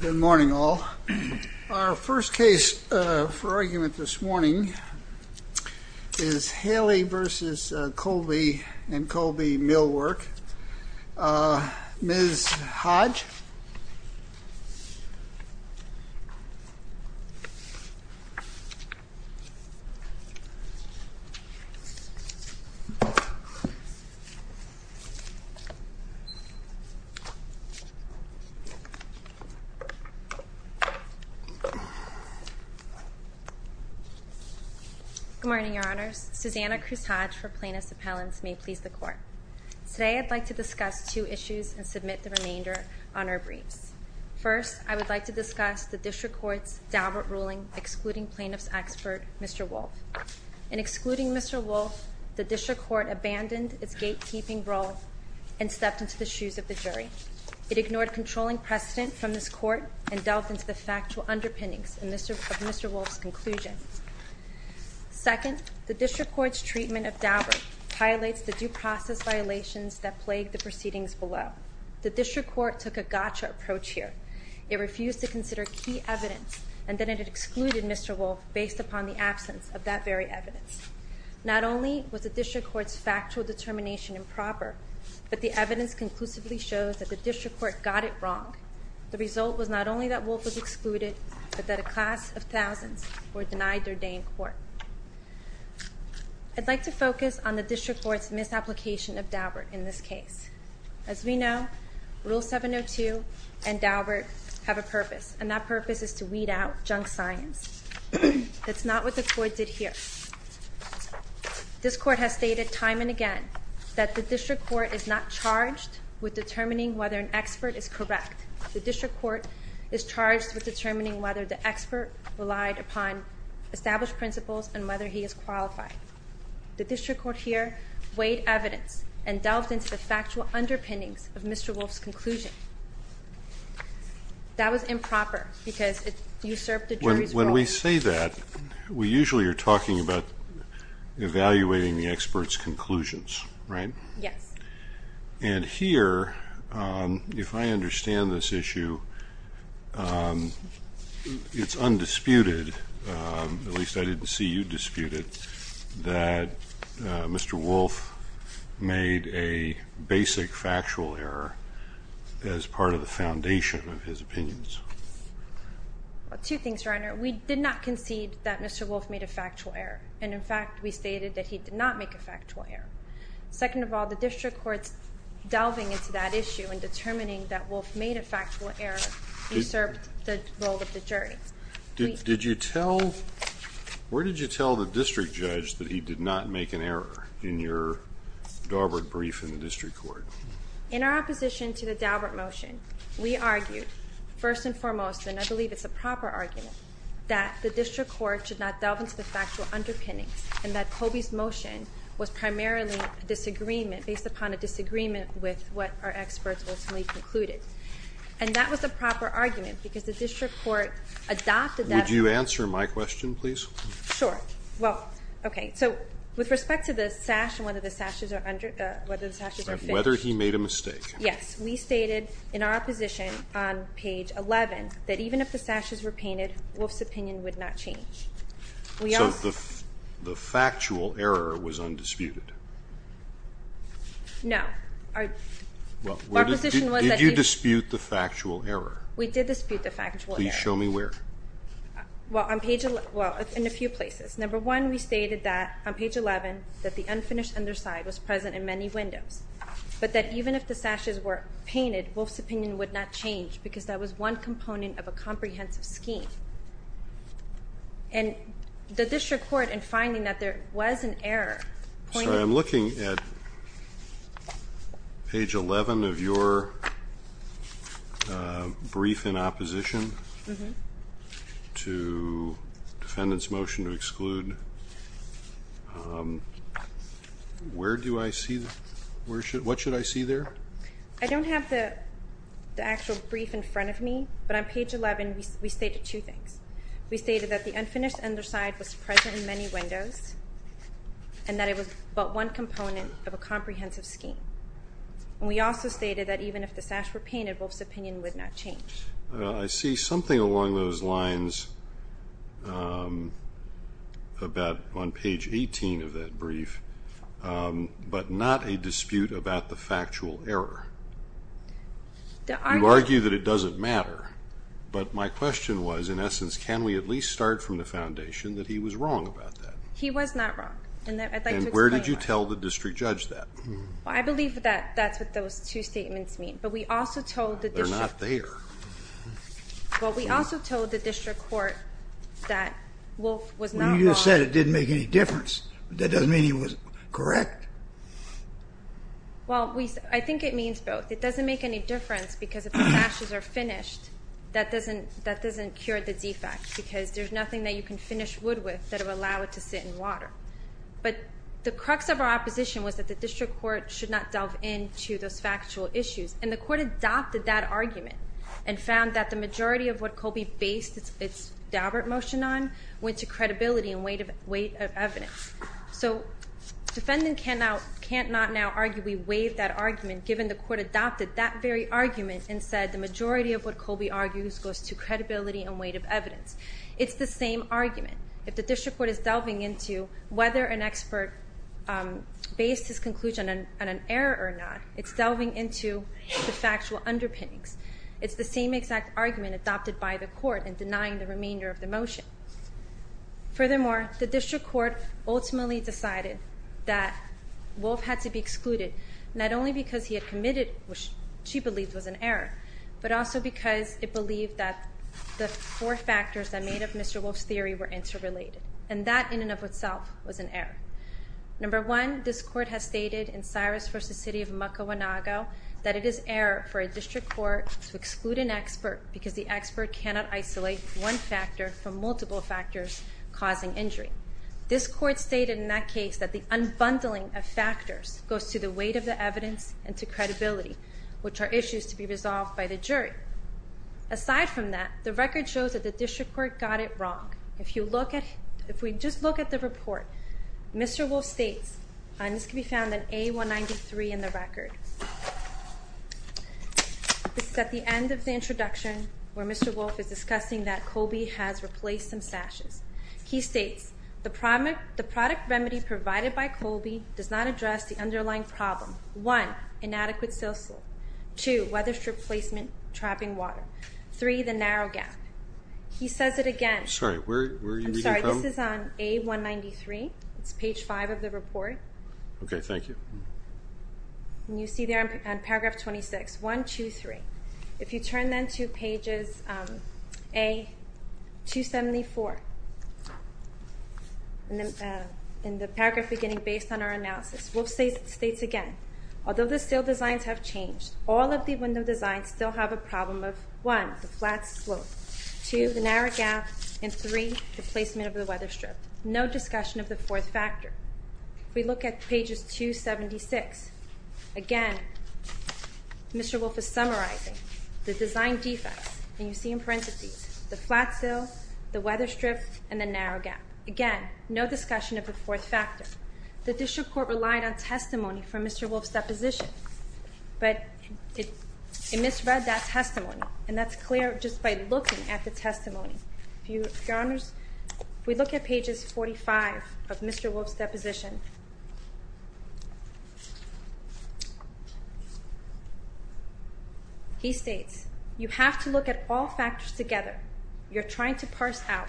Good morning all. Our first case for argument this morning is Haley v. Kolbe & Kolbe Millwork. Ms. Hodge. Good morning, Your Honors. Susanna Cruz-Hodge for Plaintiff's Appellants. May it please the Court. Today I'd like to discuss two issues and submit the remainder on our briefs. First, I would like to discuss the District Court's Daubert ruling excluding plaintiff's expert, Mr. Wolfe. In excluding Mr. Wolfe, the District Court abandoned its gatekeeping role and stepped into the shoes of the jury. It ignored controlling precedent from this Court and delved into the factual underpinnings of Mr. Wolfe's conclusion. Second, the District violations that plagued the proceedings below. The District Court took a gotcha approach here. It refused to consider key evidence and then it excluded Mr. Wolfe based upon the absence of that very evidence. Not only was the District Court's factual determination improper, but the evidence conclusively shows that the District Court got it wrong. The result was not only that Wolfe was excluded, but that a class of thousands were denied their day in court. I'd like to focus on the District Court's misapplication of Daubert in this case. As we know, Rule 702 and Daubert have a purpose and that purpose is to weed out junk science. That's not what the Court did here. This Court has stated time and again that the District Court is not charged with determining whether an expert is correct. The District Court is charged with determining whether the expert relied upon established principles and whether he is qualified. The District Court here weighed evidence and delved into the factual underpinnings of Mr. Wolfe's conclusion. That was improper because it usurped the jury's role. When we say that, we usually are talking about evaluating the expert's conclusions, right? Yes. And here, if I understand this issue, it's undisputed, at least I didn't see you disputed, that Mr. Wolfe made a basic factual error as part of the foundation of his opinions. Two things, Reiner. We did not concede that Mr. Wolfe made a factual error. And in fact, we stated that he did not make a factual error. Second of all, the District Court's delving into that issue and determining that Wolfe made a factual error usurped the role of the jury. Did you tell, where did you tell the District Judge that he did not make an error in your Daubert brief in the District Court? In our opposition to the Daubert motion, we argued, first and foremost, and I believe it's a proper argument, that the District Court should not delve into the factual underpinnings and that Colby's motion was primarily a disagreement based upon a disagreement with what our experts ultimately concluded. And that was a proper argument because the District Court adopted that. Would you answer my question, please? Sure. Well, okay. So with respect to the sash and whether the sashes are fixed. Whether he made a mistake. Yes. We stated in our opposition on page 11 that even if the sashes were painted, Wolfe's opinion would not change. So the factual error was undisputed? No. Our position was that he. Did you dispute the factual error? We did dispute the factual error. Please show me where. Well, on page 11. Well, in a few places. Number one, we stated that on page 11 that the unfinished underside was present in many windows. But that even if the sashes were painted, Wolfe's opinion would not change because that was one component of a comprehensive scheme. And the District Court in finding that there was an error. Sorry, I'm looking at page 11 of your brief in opposition to defendant's motion to exclude. Where do I see? What should I see there? I don't have the actual brief in front of me, but on page 11 we stated two things. We stated that the unfinished underside was present in many windows and that it was but one component of a comprehensive scheme. And we also stated that even if the sashes were painted, Wolfe's opinion would not change. I see something along those lines about on page 18 of that brief, but not a dispute about the factual error. You argue that it doesn't matter, but my question was, in essence, can we at least start from the And where did you tell the district judge that? I believe that that's what those two statements mean, but we also told the district. They're not there. Well, we also told the district court that Wolfe was not wrong. You just said it didn't make any difference. That doesn't mean he was correct. Well, I think it means both. It doesn't make any difference because if the sashes are finished, that doesn't cure the defect because there's nothing that you can finish wood with that would allow it to sit in water. But the crux of our opposition was that the district court should not delve into those factual issues. And the court adopted that argument and found that the majority of what Colby based its Daubert motion on went to credibility and weight of evidence. So defendant can't not now argue we waived that argument given the court adopted that very argument and said the majority of what If the district court is delving into whether an expert based his conclusion on an error or not, it's delving into the factual underpinnings. It's the same exact argument adopted by the court in denying the remainder of the motion. Furthermore, the district court ultimately decided that Wolfe had to be excluded, not only because he had committed what she believed was an error, but also because it believed that the four factors that made up Mr. Wolfe's argument were interrelated. And that in and of itself was an error. Number one, this court has stated in Cyrus v. City of Mocoanago that it is error for a district court to exclude an expert because the expert cannot isolate one factor from multiple factors causing injury. This court stated in that case that the unbundling of factors goes to the weight of the evidence and to credibility, which are issues to be resolved by the jury. Aside from that, the record shows that the district court got it wrong. If we just look at the report, Mr. Wolfe states and this can be found in A193 in the record. This is at the end of the introduction where Mr. Wolfe is discussing that Colby has replaced some sashes. He states, the product remedy provided by Colby does not address the underlying problem. One, inadequate sales flow. Two, weatherstrip placement, trapping water. Three, the narrow gap. He says it again. I'm sorry, where are you reading from? I'm sorry, this is on A193. It's page five of the report. Okay, thank you. And you see there on paragraph 26. One, two, three. If you turn then to pages A274 in the paragraph beginning based on our analysis, Wolfe states again. Although the sill designs have changed, all of the window designs still have a problem of one, the flat slope. Two, the narrow gap. And three, the placement of the weatherstrip. No discussion of the fourth factor. If we look at pages 276, again, Mr. Wolfe is summarizing the design defects. And you see in parentheses, the flat sill, the weatherstrip, and the narrow gap. Again, no discussion of the fourth factor. The district court relied on testimony from Mr. Wolfe's deposition. But it misread that testimony. And that's clear just by looking at the testimony. If we look at pages 45 to 47, he states, you have to look at all factors together. You're trying to parse out.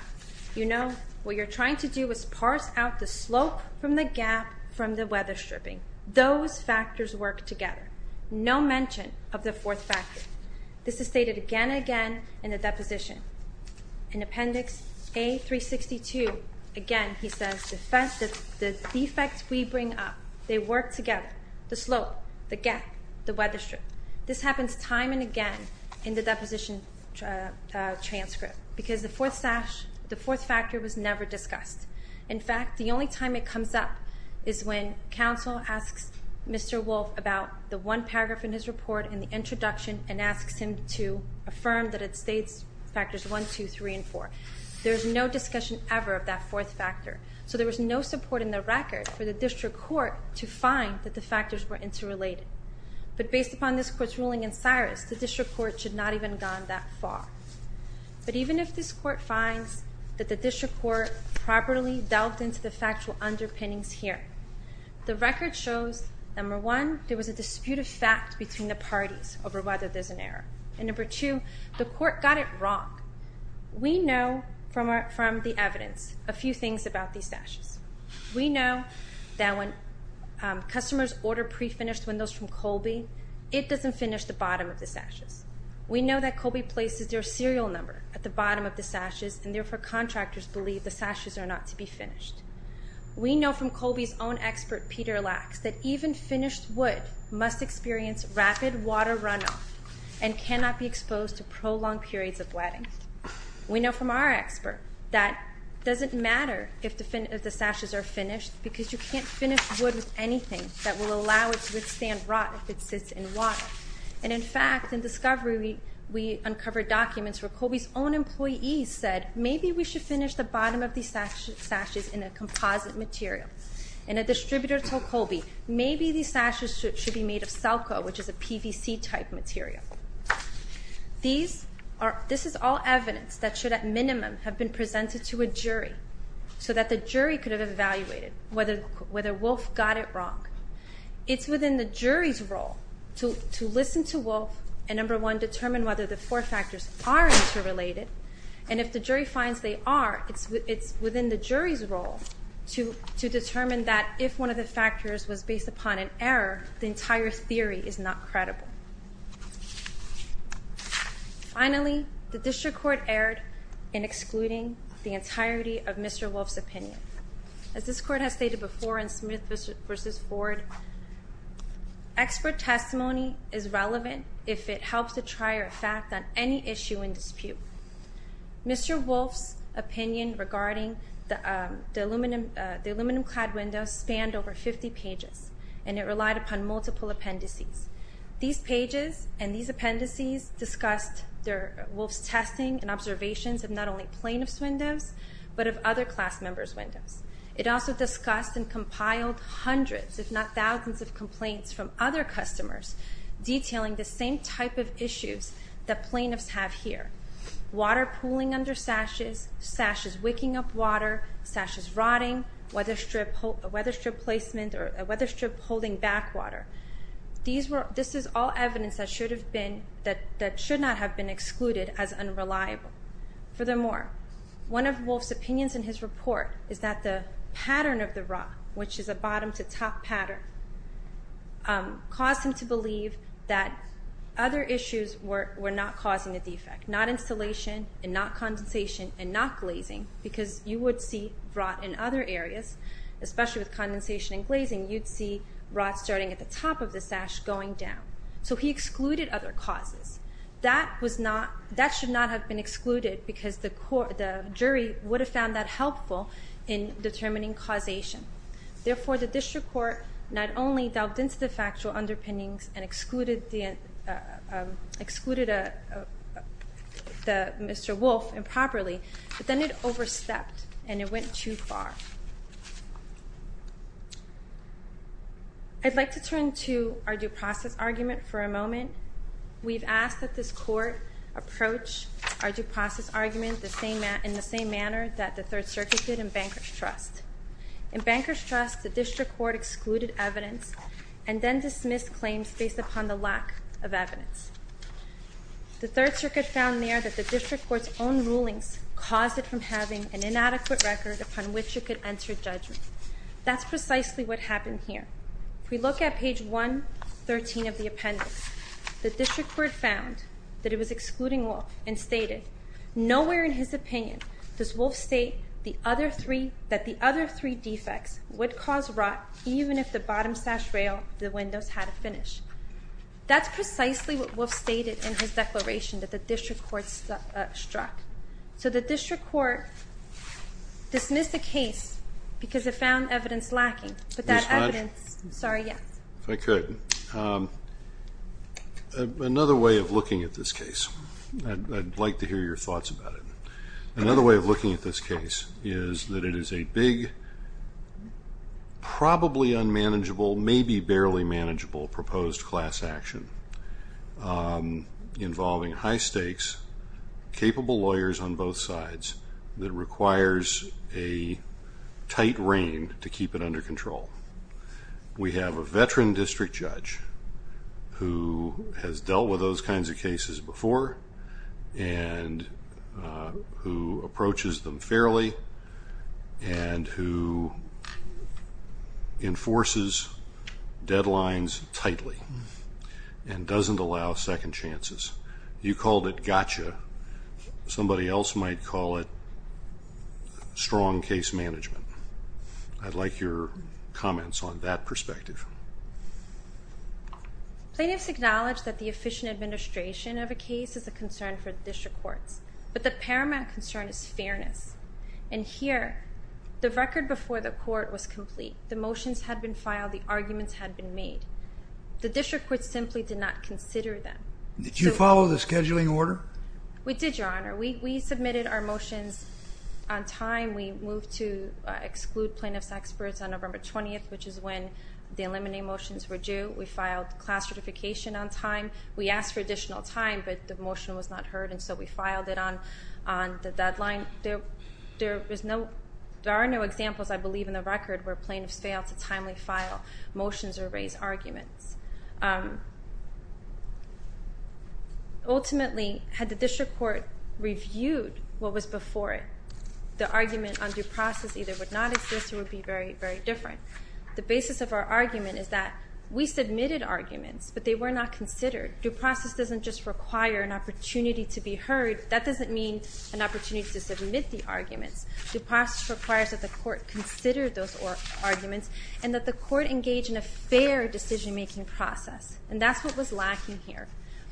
You know, what you're trying to do is parse out the slope from the gap from the weatherstripping. Those factors work together. No mention of the fourth factor. This is stated again and again in the deposition. In appendix A362, again, he says, the defects we bring up, they work together. The slope, the gap, the weatherstrip. This happens time and again in the deposition transcript. Because the fourth factor was never discussed. In fact, the only time it comes up is when counsel asks Mr. Wolfe about the one paragraph in his report in the introduction and asks him to affirm that it states factors 1, 2, 3, and 4. There's no discussion ever of that fourth factor. So there was no support in the record for the district court to find that the factors were interrelated. But based upon this court's ruling in Cyrus, the district court should not even have gone that far. But even if this court finds that the district court properly delved into the factual underpinnings here, the record shows, number one, there was a dispute of fact between the parties over whether there's an error. And number two, the court got it wrong. We know from the evidence a few things about these sashes. We know that when customers order pre-finished windows from Colby, it doesn't finish the bottom of the sashes. We know that Colby places their serial number at the bottom. We know from our own expert, Peter Lacks, that even finished wood must experience rapid water runoff and cannot be exposed to prolonged periods of wetting. We know from our expert that it doesn't matter if the sashes are finished because you can't finish wood with anything that will allow it to withstand rot if it sits in water. And in fact, in discovery, we uncovered documents where Colby's own distributor told Colby, maybe these sashes should be made of selco, which is a PVC type material. This is all evidence that should at minimum have been presented to a jury so that the jury could have evaluated whether Wolf got it wrong. It's within the jury's role to listen to Wolf and number one, determine whether the four factors are interrelated and if the jury finds they are, it's within the jury's role to determine that if one of the factors was based upon an error, the entire theory is not credible. Finally, the district court erred in excluding the entirety of Mr. Wolf's opinion. As this court has stated before in Smith v. Ford, expert testimony is relevant if it helps to try a fact on any issue in dispute. Mr. Wolf's opinion regarding the aluminum clad windows spanned over 50 pages and it relied upon multiple appendices. These pages and these appendices discussed Wolf's testing and observations of not only plaintiffs' windows, but of other class members' windows. It also discussed and compiled hundreds, if not thousands of complaints from other customers detailing the same type of issues that plaintiffs have here. Water pooling under sashes, sashes wicking up water, sashes rotting, weatherstrip placement or a weatherstrip holding back water. This is all One of Wolf's opinions in his report is that the pattern of the rot, which is a bottom to top pattern, caused him to believe that other issues were not causing a defect. Not insulation and not condensation and not glazing because you would see rot in other areas, especially with condensation and glazing, you'd see rot starting at the top of the sash going down. So he excluded other causes. That should not have been excluded because the jury would have found that helpful in determining causation. Therefore, the district court not only delved into the factual underpinnings and excluded Mr. Wolf improperly, but then it overstepped and it went too far. I'd like to turn to our due process argument for a moment. We've asked that this court approach our due process argument in the same manner that the Third Circuit did in Banker's Trust. In Banker's Trust, the district court excluded evidence and then dismissed claims based upon the lack of evidence. The Third Circuit found there that the district court's own rulings caused it from having an inadequate record upon which it could enter judgment. That's precisely what happened here. If we look at page 113 of the appendix, the district court found that it was excluding Wolf and stated, nowhere in his opinion does Wolf state that the other three defects would cause rot even if the bottom sash rail of the windows had a finish. That's precisely what Wolf stated in his declaration that the district court struck. So the district court dismissed the case because it found evidence lacking. But that evidence, sorry, yes. If I could, another way of looking at this case, I'd like to hear your probably unmanageable, maybe barely manageable proposed class action involving high stakes, capable lawyers on both sides that requires a tight rein to keep it under control. We have a veteran district judge who has dealt with those kinds of cases before and who approaches them fairly and who enforces deadlines tightly and doesn't allow second chances. You called it gotcha. Somebody else might call it strong case management. I'd like your comments on that perspective. Plaintiffs acknowledge that the efficient administration of a case is a concern for district courts. But the paramount concern is fairness. And here, the record before the court was complete. The motions had been filed. The arguments had been made. The district court simply did not consider them. Did you follow the scheduling order? We did, Your Honor. We submitted our motions on time. We moved to exclude plaintiffs' experts on November 20th, which is when the eliminating motions were due. We filed class certification on time. We asked for additional time, but the motion was not heard, and so we filed it on the deadline. There are no examples, I believe, in the record where plaintiffs failed to timely file motions or raise arguments. Ultimately, had the district court reviewed what was before it, the argument on due process either would not exist or would be very, very different. The basis of our argument is that we submitted arguments, but they were not considered. Due process doesn't just require an opportunity to be heard. That doesn't mean an opportunity to submit the arguments. Due process requires that the court consider those arguments and that the court engage in a fair decision-making process. And that's what was lacking here.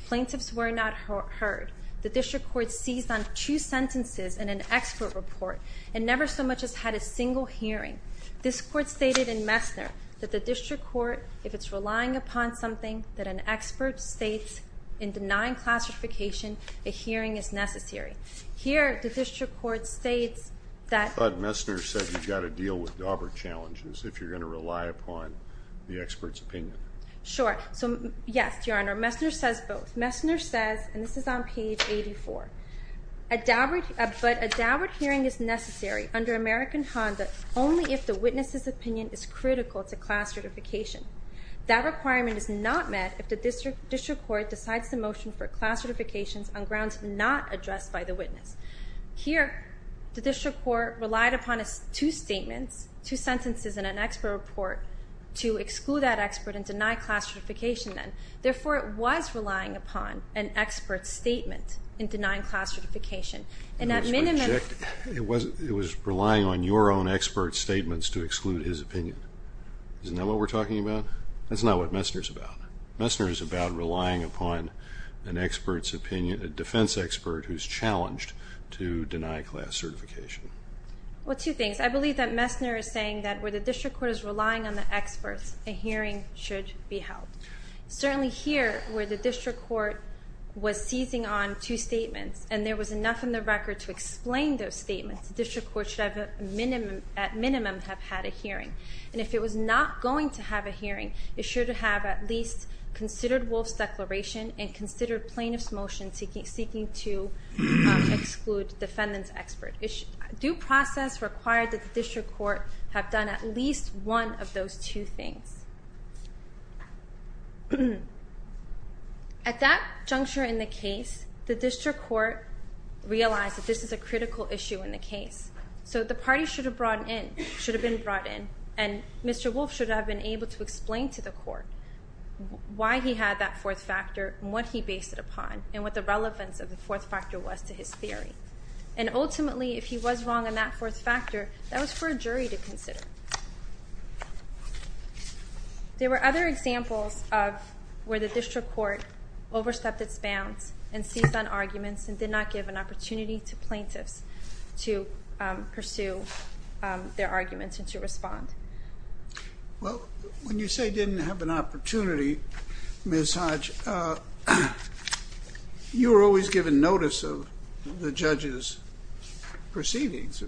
Plaintiffs were not heard. The district court seized on two sentences and an expert report, and never so much as had a single hearing. This court stated in Messner that the district court, if it's relying upon something that an expert states in denying class certification, a hearing is necessary. Here, the district court states that... But Messner said you've got to deal with Daubert challenges if you're going to rely upon the expert's opinion. Sure. So, yes, Your Honor, Messner says both. Messner says, and this is on page 84, but a Daubert hearing is necessary under American Honda only if the witness's opinion is critical to class certification. That requirement is not met if the district court decides the motion for class certifications on grounds not addressed by the witness. Here, the district court relied upon two statements, two sentences, and an expert report to exclude that expert and deny class certification then. Therefore, it was relying upon an expert's statement in denying class certification. It was relying on your own expert's statements to exclude his opinion. Isn't that what we're talking about? That's not what Messner's about. Messner's about relying upon an expert's opinion, a defense expert who's challenged to deny class certification. Well, two things. I believe that Messner is saying that where the district court is relying on the experts, a hearing should be held. Certainly here, where the district court was seizing on two statements, and there was enough in the record to explain those statements, the district court should at minimum have had a hearing. And if it was not going to have a hearing, it should have at least considered Wolf's declaration and considered plaintiff's motion seeking to exclude defendant's expert. Due process required that the district court have done at least one of those two things. At that juncture in the case, the district court realized that this is a critical issue in the case. So the party should have been brought in, and Mr. Wolf should have been able to explain to the court why he had that fourth factor and what he based it on. That was for a jury to consider. There were other examples where the district court overstepped its bounds and seized on arguments and did not give an opportunity to plaintiffs to pursue their arguments and to respond. Well, when you say didn't have an opportunity, Ms. Hodge, you were always given notice of the judge's proceedings.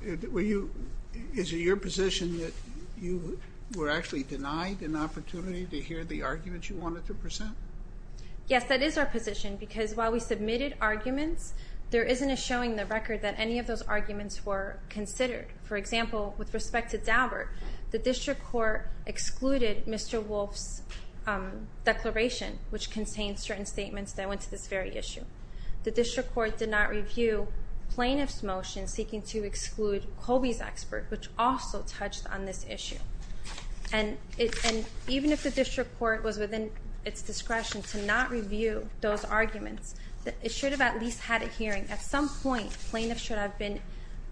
Is it your position that you were actually denied an opportunity to hear the arguments you wanted to present? Yes, that is our position, because while we submitted arguments, there isn't a showing in the record that any of those arguments were considered. For example, with respect to Daubert, the district court excluded Mr. Wolf's declaration, which contained certain statements that went to this very issue. The district court did not review plaintiff's motion seeking to exclude Colby's expert, which also touched on this issue. Even if the district court was within its discretion to not review those arguments, it should have at least had a hearing. At some point, plaintiffs should have been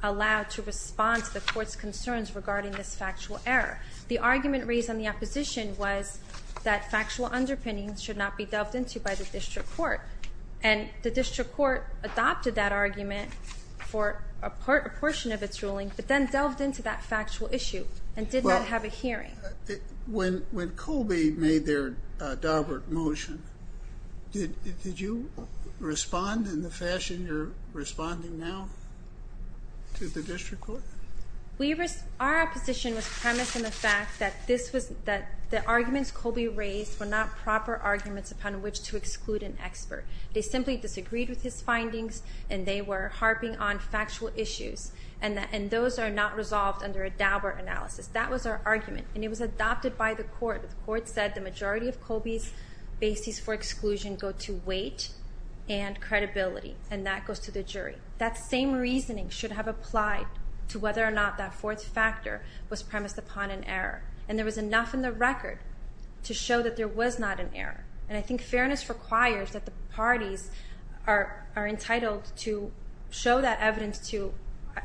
allowed to respond to the court's concerns regarding this factual error. The argument raised on the opposition was that factual underpinnings should not be delved into by the district court. And the district court adopted that argument for a portion of its ruling, but then delved into that factual issue and did not have a hearing. When Colby made their Daubert motion, did you respond in the fashion you're responding now to the district court? Our opposition was premised on the fact that the arguments Colby raised were not proper arguments upon which to exclude an expert. They simply disagreed with his findings and they were harping on factual issues. And those are not resolved under a Daubert analysis. That was our argument. And it was adopted by the court. The court said the majority of Colby's bases for exclusion go to weight and credibility. And that goes to the jury. That same reasoning should have applied to whether or not that fourth factor was premised upon an error. And there was enough in the record to show that there was not an error. We gave that evidence to,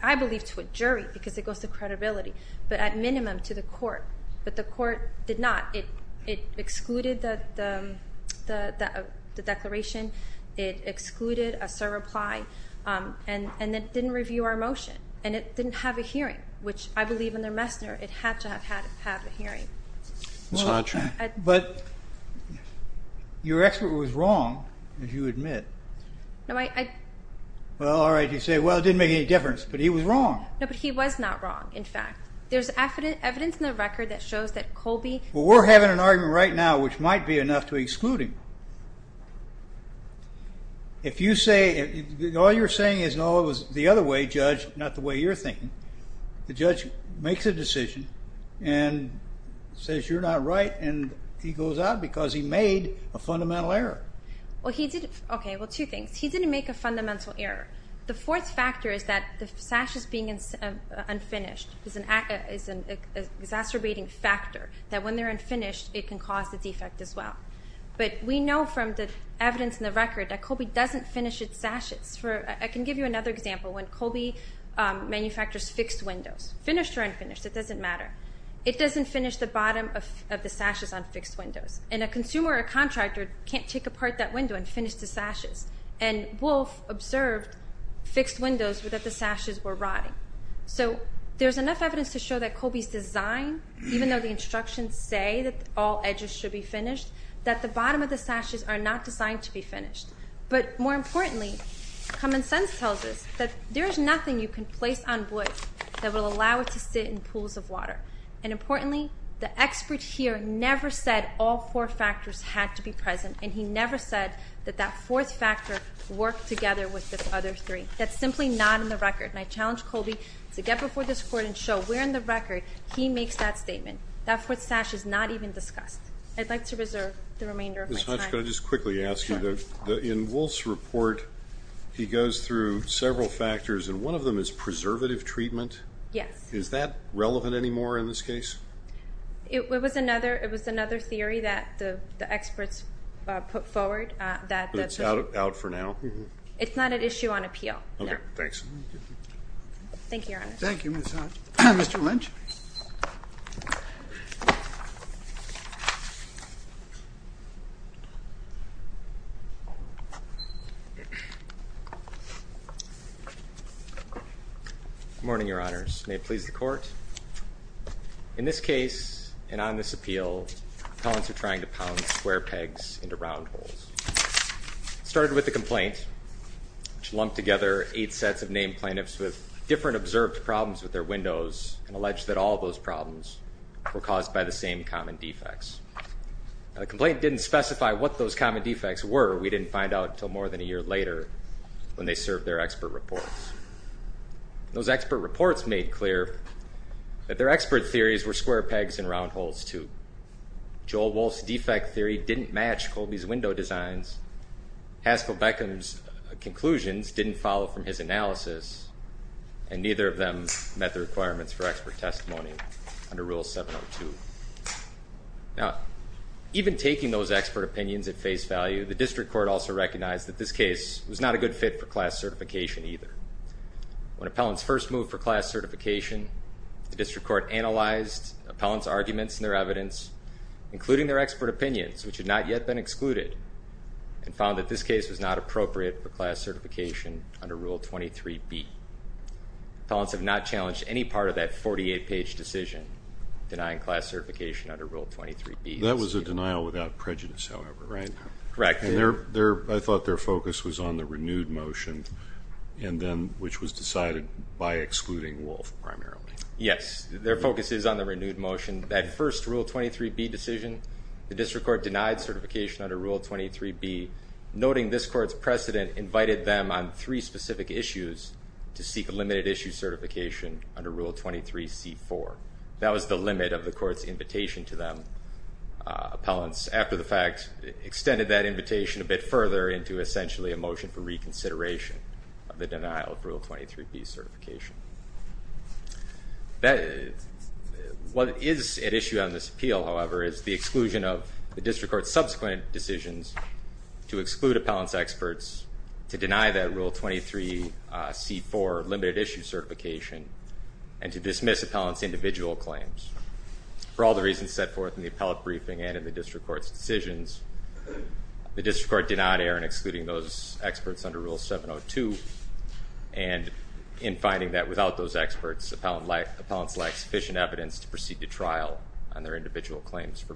I believe, to a jury because it goes to credibility. But at minimum to the court. But the court did not. It excluded the declaration. It excluded a surreply. And it didn't review our motion. And it didn't have a hearing. Which, I believe under Messner, it had to have had a hearing. But your expert was wrong, as you admit. Well, all right. You say, well, it didn't make any difference. But he was wrong. No, but he was not wrong. In fact, there's evidence in the record that shows that Colby... Well, we're having an argument right now, which might be enough to exclude him. If you say, all you're saying is, no, it was the other way, judge. Not the way you're thinking. The judge makes a decision and says you're not right. And he goes out because he made a fundamental error. Well, two things. He didn't make a fundamental error. The fourth factor is that the sashes being unfinished is an exacerbating factor. That when they're unfinished, it can cause a defect as well. But we know from the evidence in the record that Colby doesn't finish its sashes. I can give you another example. When Colby manufactures fixed windows, finished or unfinished, it doesn't matter. It doesn't finish the bottom of the sashes on fixed windows. And a consumer or a contractor can't take apart that window and finish the sashes. And Wolf observed fixed windows that the sashes were rotting. So there's enough evidence to show that Colby's design, even though the instructions say that all edges should be finished, that the bottom of the sashes are not designed to be finished. But more importantly, common sense tells us that there is nothing you can place on wood that will allow it to sit in pools of water. And importantly, the expert here never said all four factors had to be present. And he never said that that before this court. And so we're in the record. He makes that statement. That foot sash is not even discussed. I'd like to reserve the remainder of my time. Ms. Hotchkow, can I just quickly ask you, in Wolf's report, he goes through several factors, and one of them is preservative treatment. Yes. Is that relevant anymore in this case? It was another theory that the experts put forward. But it's out for now? It's not at issue on appeal. Thank you, Your Honor. Thank you, Ms. Hotchkow. Mr. Lynch. Good morning, Your Honors. May it please the Court? In this case, and on this appeal, appellants are trying to pound square pegs into round holes. It started with a complaint, which lumped together eight sets of named plaintiffs with different observed problems with their windows and alleged that all of those problems were caused by the same common defects. The complaint didn't specify what those common defects were. We didn't find out until more than a year later when they served their expert reports. Those expert reports made clear that their expert theories were square pegs and round holes, too. Joel Wolf's defect theory didn't match Colby's window designs. Haskell Beckham's conclusions didn't follow from his analysis, and neither of them met the requirements for expert testimony under Rule 702. Now, even taking those expert opinions at face value, the District Court also recognized that this case was not a good fit for class certification, either. When appellants first moved for class certification, the District Court analyzed appellants' arguments in their evidence, including their expert opinions, which had not yet been excluded, and found that this case was not appropriate for class certification under Rule 23b. Appellants have not challenged any part of that I thought their focus was on the renewed motion, which was decided by excluding Wolf primarily. Yes, their focus is on the renewed motion. That first Rule 23b decision, the District Court denied certification under Rule 23b, noting this court's precedent invited them on three specific issues to seek a limited issue certification under Rule 23c4. That was the limit of the court's invitation to them. Appellants, after the fact, extended that invitation a bit further into essentially a motion for reconsideration of the denial of Rule 23b certification. What is at issue on this appeal, however, is the exclusion of the District Court's subsequent decisions to exclude appellants' experts, to deny that Rule 23c4 limited issue certification, and to dismiss appellants' individual claims. For all the reasons set forth in the appellate briefing and in the District Court's decisions, the District Court did not err in excluding those experts under Rule 702, and in finding that without those experts, appellants lack sufficient evidence to proceed to trial on their individual claims for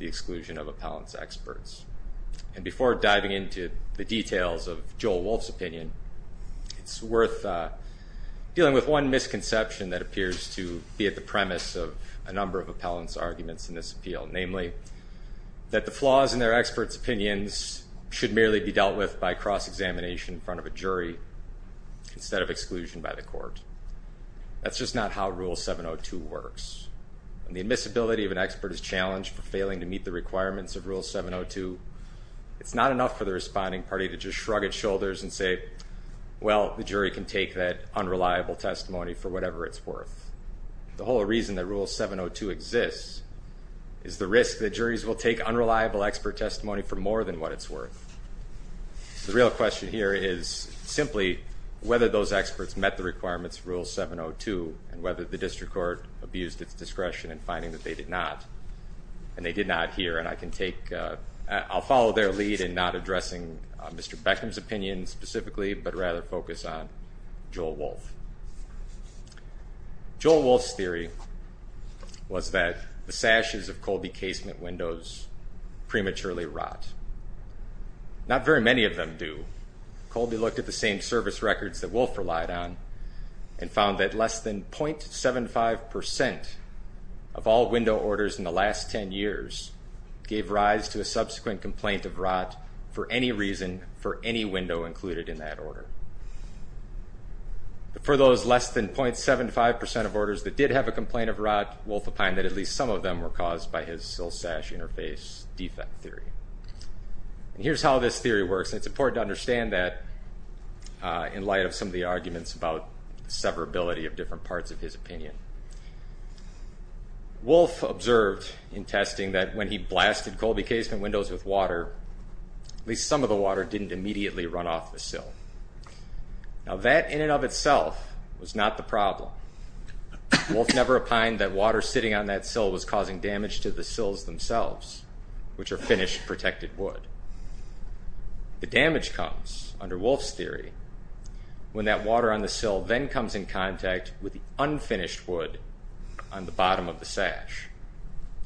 the exclusion of appellants' experts. And before diving into the details of Joel Wolf's opinion, it's worth dealing with one misconception that appears to be at the premise of a number of appellants' arguments in this appeal, namely that the flaws in their experts' opinions should merely be dealt with by cross-examination in front of a jury instead of exclusion by the court. That's just not how Rule 702 works. When the admissibility of an expert is challenged for failing to meet the requirements of Rule 702, it's not enough for the responding party to just shrug its shoulders and say, well, the jury can take that unreliable testimony for whatever it's worth. The whole reason that Rule 702 exists is the risk that juries will take unreliable expert testimony for more than what it's worth. The real question here is simply whether those experts met the requirements of Rule 702 and whether the district court abused its discretion in finding that they did not. And they did not here, and I can take, I'll follow their lead in not addressing Mr. Beckham's opinion specifically, but rather focus on Joel Wolf. Joel Wolf's theory was that the sashes of cold Not very many of them do. Colby looked at the same service records that Wolf relied on and found that less than 0.75% of all window orders in the last ten years gave rise to a subsequent complaint of rot for any reason for any window included in that order. For those less than 0.75% of orders that did have a complaint of rot, Wolf opined that at least some of them were caused by his sill sash interface defect theory. And here's how this theory works, and it's important to understand that in light of some of the arguments about severability of different parts of his opinion. Wolf observed in testing that when he blasted Colby casement windows with water, at least some of the water didn't immediately run off the sill. Now that in and of itself was not the problem. Wolf never opined that water sitting on that sill was causing damage to the sills themselves, which are finished protected wood. The damage comes, under Wolf's theory, when that water on the sill then comes in contact with the unfinished wood on the bottom of the sash.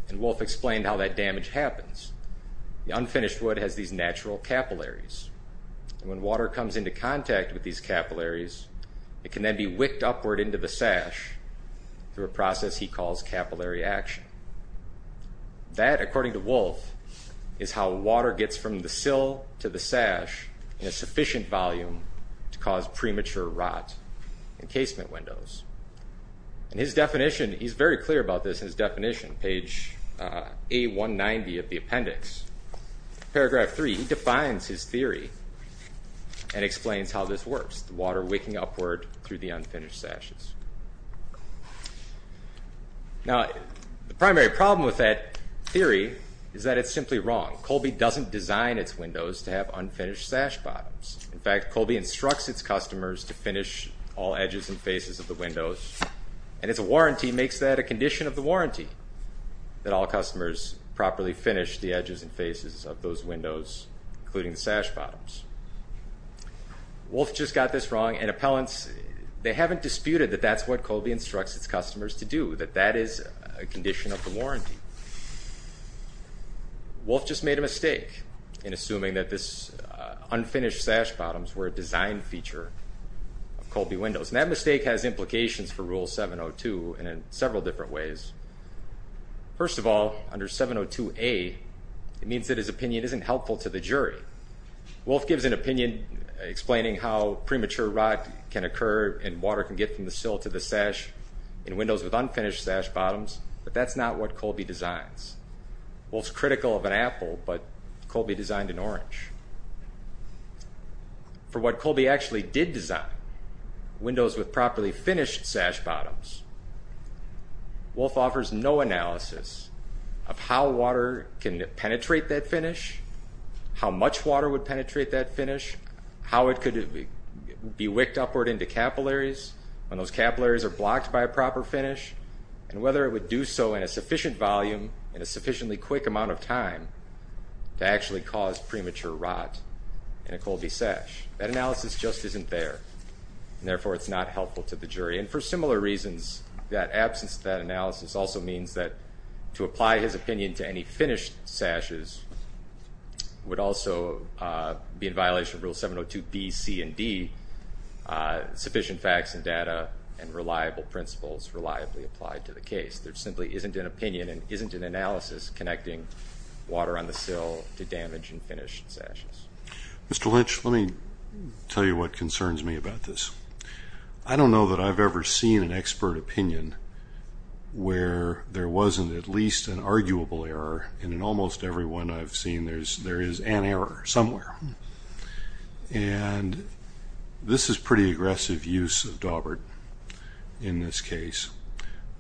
And Wolf explained how that damage happens. The unfinished wood has these natural capillaries, and when water comes into contact with these capillaries, it can then be wicked upward into the sash through a process he calls capillary action. That, according to Wolf, is how water gets from the sill to the sash in a sufficient volume to cause premature rot in casement windows. And his definition, he's very clear about this in his definition, page A190 of the appendix. Paragraph 3, he defines his theory and explains how this works, the water wicking upward through the unfinished sashes. Now, the primary problem with that theory is that it's simply wrong. Colby doesn't design its windows to have unfinished sash bottoms. In fact, Colby instructs its customers to finish all edges and faces of the windows, and its warranty makes that a condition of the warranty, that all customers properly finish the edges and faces of those windows, including the sash bottoms. Wolf just got this wrong, and appellants, they haven't disputed that that's what Colby instructs its customers to do, that that is a condition of the warranty. Wolf just made a mistake in assuming that this unfinished sash bottoms were a design feature of Colby windows, and that mistake has implications for Rule 702 in several different ways. First of all, under 702A, it means that his opinion isn't helpful to the jury. Wolf gives an opinion explaining how premature rot can occur and water can get from the sill to the sash in windows with unfinished sash bottoms, but that's not what Colby designs. Wolf's critical of an apple, but Colby designed an orange. For what Colby actually did design, windows with properly finished sash bottoms, Wolf offers no analysis of how water can penetrate that finish, how much water would penetrate that finish, how it could be wicked upward into capillaries when those capillaries are blocked by a proper finish, and whether it would do so in a sufficient volume in a sufficiently quick amount of time to actually cause premature rot in a Colby sash. That analysis just isn't there, and therefore it's not helpful to the jury, and for similar reasons, that absence of that analysis also means that to apply his opinion to any finished sashes would also be in violation of Rule 702B, C, and D, sufficient facts and data and reliable principles reliably applied to the case. There simply isn't an opinion and isn't an analysis connecting water on the sill to damaged and finished sashes. Mr. Lynch, let me tell you what concerns me about this. I don't know that I've ever seen an expert opinion where there wasn't at least an arguable error, and in almost every one I've seen there is an error somewhere. And this is pretty aggressive use of Dawbert in this case,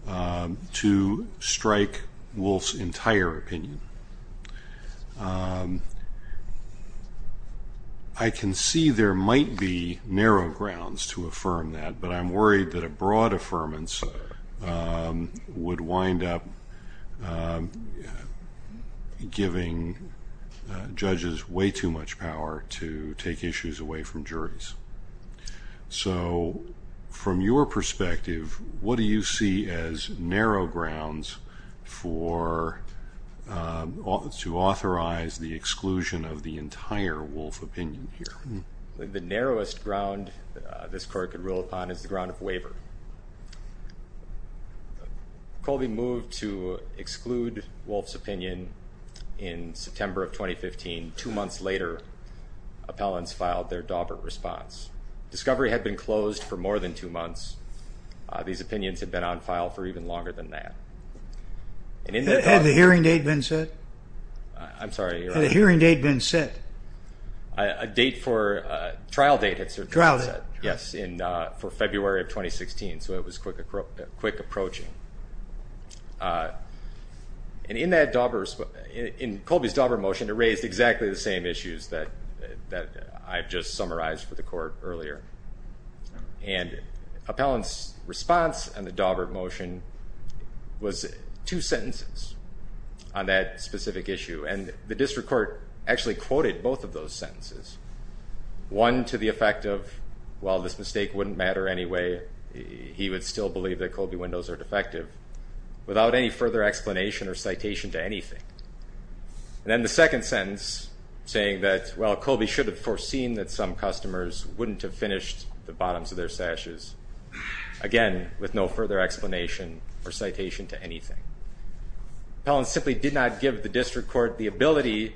to strike Wolf's entire opinion. I can see there might be narrow grounds to affirm that, but I'm worried that a broad affirmance would wind up giving judges way too much power to take issues away from juries. So from your perspective, what do you see as narrow grounds to authorize the exclusion of the entire Wolf opinion here? The narrowest ground this court could rule upon is the ground of waiver. Colby moved to exclude Wolf's opinion in September of 2015. Two months later, appellants filed their Dawbert response. Discovery had been closed for more than two months. These opinions had been on file for even longer than that. Had the hearing date been set? Had the hearing date been set? A trial date had been set for February of 2016, so it was quick approaching. In Colby's Dawbert motion, it raised exactly the same issues that I've just summarized for the court earlier. Appellant's response on the Dawbert motion was two sentences on that specific issue, and the district court actually quoted both of those sentences. One to the effect of, while this mistake wouldn't matter anyway, he would still believe that Colby windows are defective without any further explanation or citation to anything. And then the second sentence saying that, well, Colby should have foreseen that some customers wouldn't have finished the bottoms of their sashes, again, with no further explanation or citation to anything. Appellants simply did not give the district court the ability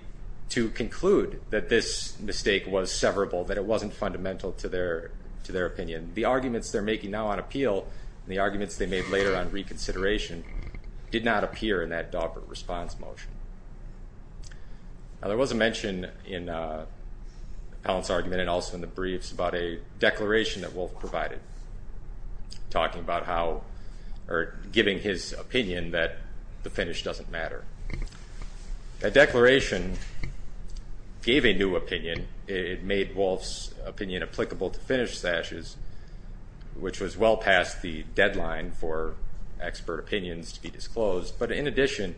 to conclude that this mistake was severable, that it wasn't fundamental to their opinion. The arguments they're making now on appeal, and the arguments they made later on reconsideration, did not appear in that Dawbert response motion. There was a mention in Appellant's argument and also in the briefs about a declaration that Wolf provided, giving his opinion that the finish doesn't matter. That declaration gave a new opinion. It made Wolf's opinion applicable to finish sashes, which was well past the deadline for expert opinions to be disclosed. But in addition,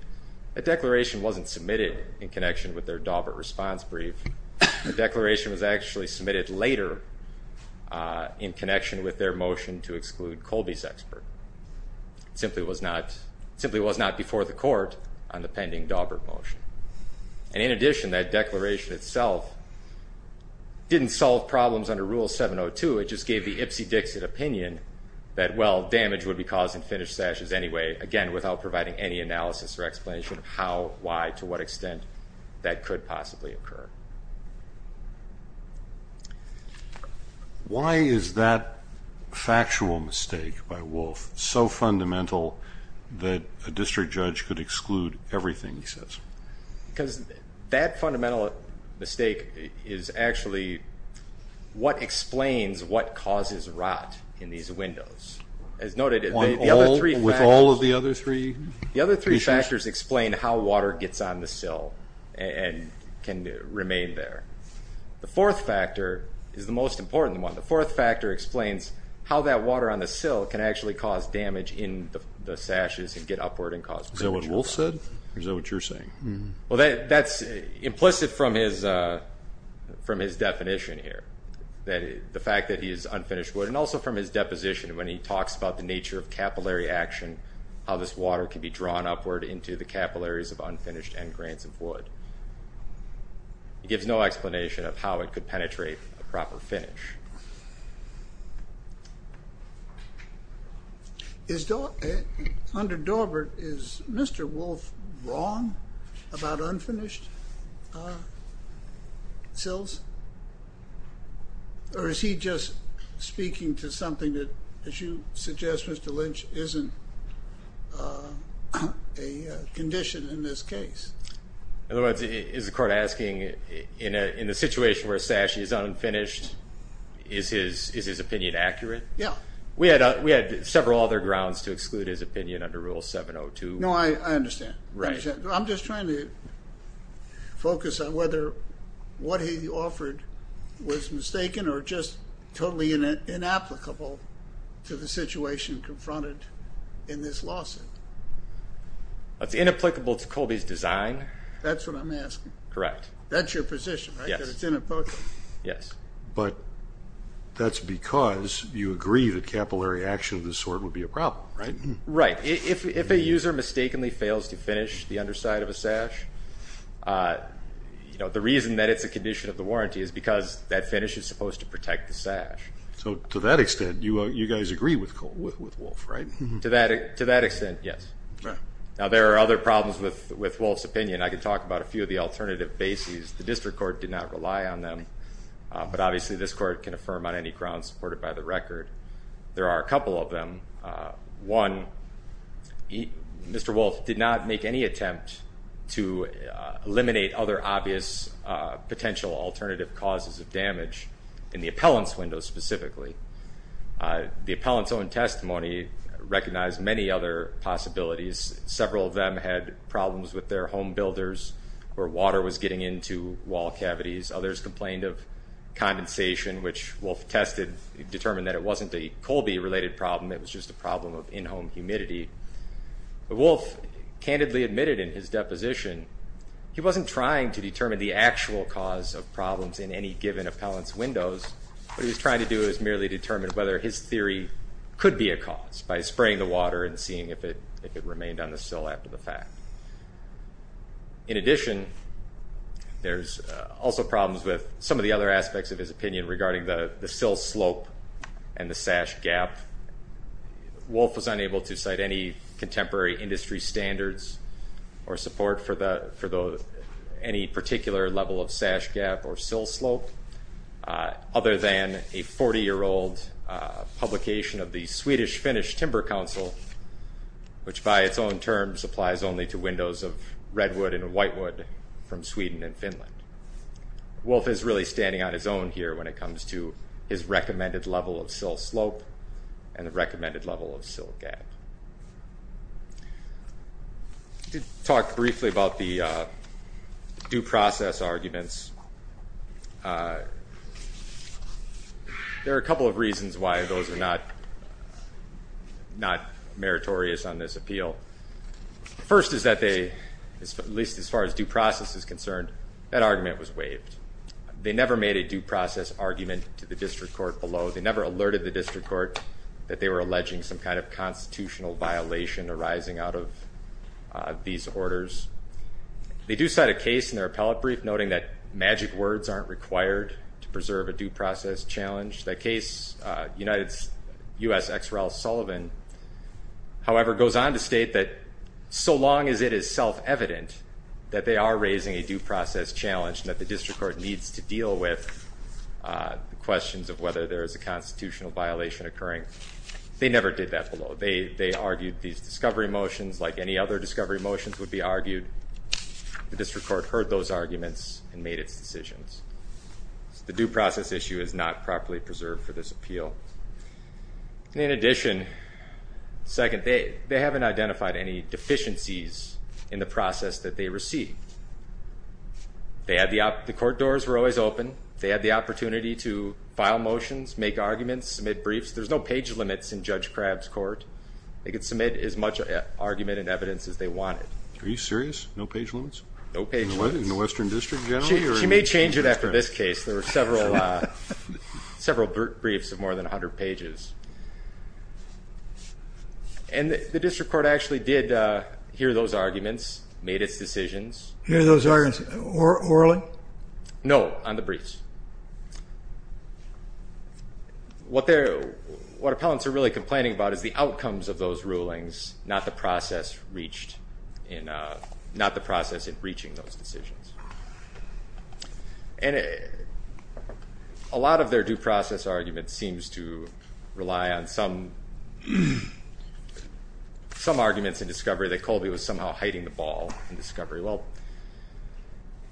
that declaration wasn't submitted in connection with their Dawbert response brief. The declaration was actually submitted later in connection with their motion to exclude Colby's expert. It simply was not before the court on the pending Dawbert motion. And in addition, that declaration itself didn't solve problems under Rule 702. It just gave the Ipsy Dixit opinion that, well, damage would be caused in finish sashes anyway, again, without providing any analysis or explanation of how, why, to what extent that could possibly occur. Why is that factual mistake by Wolf so fundamental that a district judge could exclude everything he says? Because that fundamental mistake is actually what the other three issues? The other three factors explain how water gets on the sill and can remain there. The fourth factor is the most important one. The fourth factor explains how that water on the sill can actually cause damage in the sashes and get upward and cause damage. Is that what Wolf said, or is that what you're saying? That's implicit from his definition here, the fact that he's unfinished wood. And also from his deposition when he talks about the nature of capillary action, how this water can be drawn upward into the capillaries of unfinished end grains of wood. It gives no explanation of how it could penetrate a proper finish. Under Dorbert, is Mr. Wolf wrong about unfinished sills? Or is he just speaking to something that, as you suggest, Mr. Lynch, isn't a condition in this case? In other words, is the court asking, in a situation where a sash is unfinished, is his opinion accurate? We had several other grounds to exclude his opinion under Rule 702. No, I understand. I'm just trying to focus on whether what he offered was mistaken or just totally inapplicable to the situation confronted in this lawsuit. It's inapplicable to Colby's design? That's what I'm asking. Correct. That's your position, right, that it's inapplicable? Yes. But that's because you agree that capillary action of this sort would be a problem, right? Right. If a user mistakenly fails to finish the underside of a sash, the reason that it's a condition of the To that extent, yes. Now there are other problems with Wolf's opinion. I can talk about a few of the alternative bases. The district court did not rely on them, but obviously this court can affirm on any grounds supported by the record. There are a couple of them. One, Mr. Wolf did not make any attempt to eliminate other obvious potential alternative causes of damage in the appellant's window specifically. The appellant's own testimony recognized many other possibilities. Several of them had problems with their home builders where water was getting into wall cavities. Others complained of condensation, which Wolf tested, determined that it wasn't a Colby-related problem. It was just a problem of in-home humidity. Wolf candidly admitted in his deposition he wasn't trying to determine the actual cause of problems in any given appellant's windows. What he was trying to do was merely determine whether his theory could be a cause by spraying the water and seeing if it remained on the sill after the fact. In addition, there's also problems with some of the other aspects of his opinion regarding the sill slope and the sash gap. Wolf was unable to cite any contemporary industry standards or support for any particular level of sash gap or sill slope other than a 40-year-old publication of the Swedish-Finnish Timber Council, which by its own terms applies only to windows of redwood and whitewood from Sweden and Finland. Wolf is really standing on his own here when it comes to his recommended level of sill slope and the recommended level of sill gap. To talk briefly about the due process arguments, there are a couple of reasons why those are not meritorious on this appeal. First is that they, at least as far as due process is concerned, that argument was waived. They never made a due process argument to the district court below. They never alerted the district court that they were alleging some kind of constitutional violation arising out of these orders. They do cite a case in their appellate brief noting that magic words aren't required to preserve a due process argument. Charles Sullivan, however, goes on to state that so long as it is self-evident that they are raising a due process challenge and that the district court needs to deal with questions of whether there is a constitutional violation occurring. They never did that below. They argued these discovery motions like any other discovery motions would be argued. The district court heard those arguments and made its decisions. The due process issue is not properly preserved for this appeal. In addition, second, they haven't identified any deficiencies in the process that they received. The court doors were always open. They had the opportunity to file motions, make arguments, submit briefs. There's no page limits in Judge Crabb's court. They could submit as much argument and evidence as they wanted. Are you serious? No page limits? No page limits. In the Western District General? She may change it after this case. There were several briefs of more than 100 pages. And the district court actually did hear those arguments, made its decisions. Hear those arguments orally? No, on the briefs. What appellants are really complaining about is the outcomes of those rulings, not the process in reaching those decisions. And a lot of their due process argument seems to rely on some arguments in discovery that Colby was somehow hiding the ball in discovery. Well,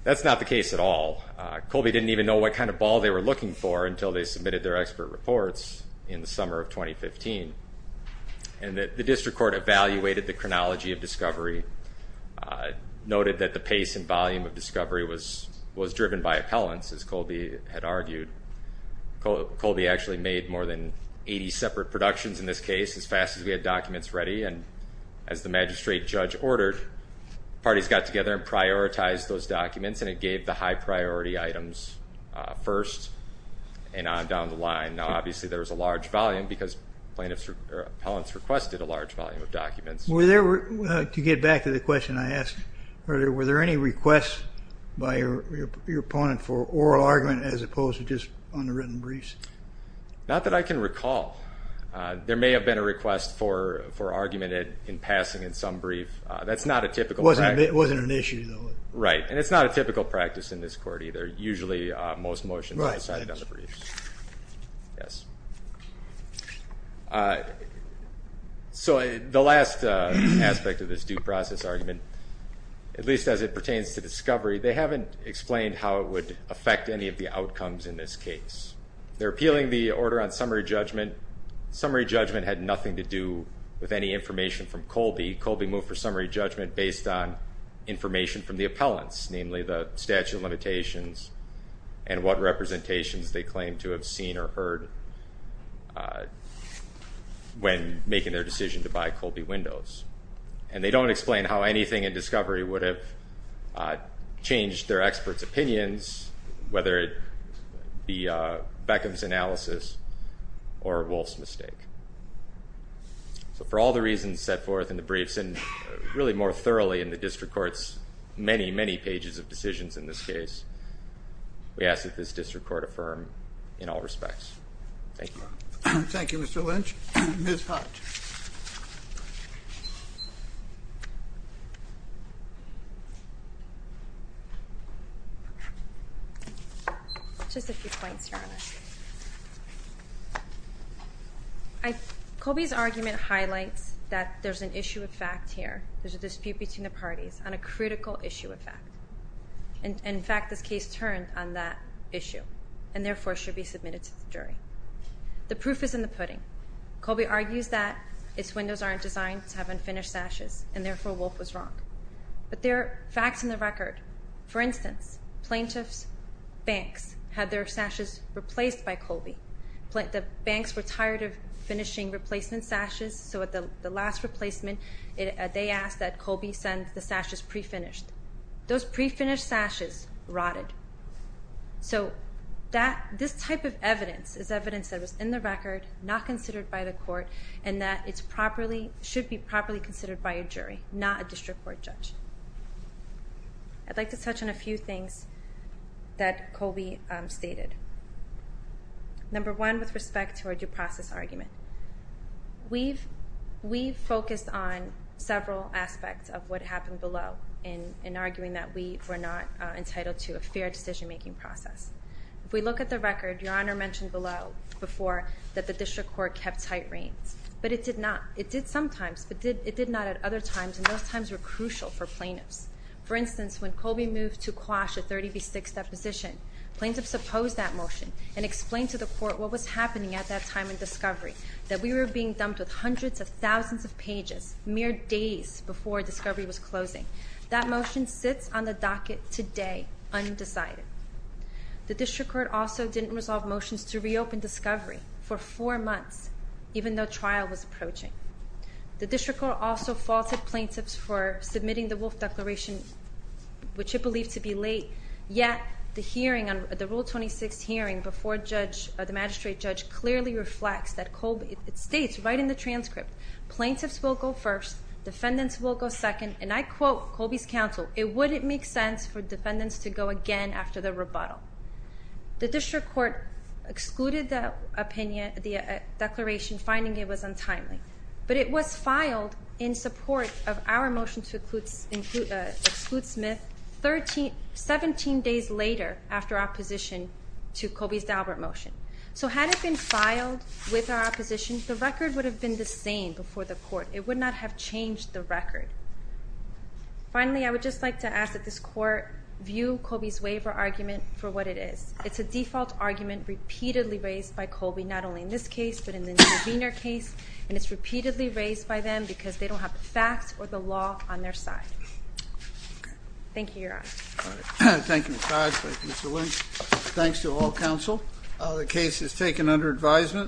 that's not the case at all. Colby didn't even know what kind of ball they were looking for until they submitted their expert reports in the summer of 2015. And the district court evaluated the chronology of discovery, noted that the pace and volume of discovery was driven by appellants, as Colby had argued. Colby actually made more than 80 separate productions in this case as fast as we had documents ready. And as the magistrate judge ordered, parties got together and prioritized those documents and it gave the high priority items first and on down the line. Now obviously there was a large volume because plaintiffs or appellants requested a large volume of documents. To get back to the question I asked earlier, were there any requests by your opponent for oral argument as opposed to just underwritten briefs? Not that I can recall. There may have been a request for argument in passing in some brief. That's not a typical practice. It wasn't an issue though. Right, and it's not a typical practice in this court either. Usually most motions are decided on the briefs. So the last aspect of this due process argument, at least as it pertains to discovery, they haven't explained how it would affect any of the outcomes in this case. They're appealing the order on summary judgment. Summary judgment had nothing to do with any information from Colby. Colby moved for summary judgment based on information from the appellants, namely the statute of limitations and what representations they claimed to have seen or heard when making their decision to buy Colby windows. And they don't explain how anything in discovery would have changed their expert's opinions whether it be Beckham's analysis or Wolfe's mistake. So for all the reasons set forth in the briefs and really more thoroughly in the district court's many, many pages of decisions in this case, we ask that this district court affirm in all respects. Thank you. Thank you, Mr. Lynch. Ms. Hart. Colby's argument highlights that there's an issue of fact here. There's a dispute between the parties on a critical issue of fact. And in fact, this case turned on that issue and therefore should be submitted to the jury. The proof is in the pudding. Colby argues that its windows aren't designed to have unfinished sashes and therefore Wolfe was wrong. But there are facts in the record. For instance, plaintiffs' banks had their sashes replaced by Colby. The banks were tired of finishing replacement sashes, so at the last replacement, they asked that Colby send the sashes pre-finished. Those pre-finished sashes rotted. So this type of evidence is evidence that was in the record, not considered by the court, and that it should be properly considered by a jury, not a district court judge. I'd like to touch on a few things that Colby stated. Number one, with respect to our due process argument. We've focused on several aspects of what happened below in arguing that we were not The district court also didn't resolve motions to reopen discovery for four months. even though trial was approaching. The district court also faulted plaintiffs for submitting the Wolfe Declaration, which it believed to be late. Yet, the hearing on the Rule 26 hearing before the magistrate judge clearly reflects that Colby states right in the transcript, plaintiffs will go first, defendants will go second, and I quote Colby's counsel, it wouldn't make sense for defendants to go again after the rebuttal. The district court excluded the declaration, finding it was untimely. But it was filed in support of our motion to exclude Smith, 17 days later after our position to Colby's Dalbert motion. So had it been filed with our opposition, the record would have been the same before the court. It would not have changed the record. Finally, I would just like to ask that this court view Colby's waiver argument for what it is. It's a default argument repeatedly raised by Colby, not only in this case, but in the intervener case, and it's repeatedly raised by them because they don't have the facts or the law on their side. Thank you, Your Honor. Thank you, Mr. Hodge. Thank you, Mr. Lynch. Thanks to all counsel. The case is taken under advisement.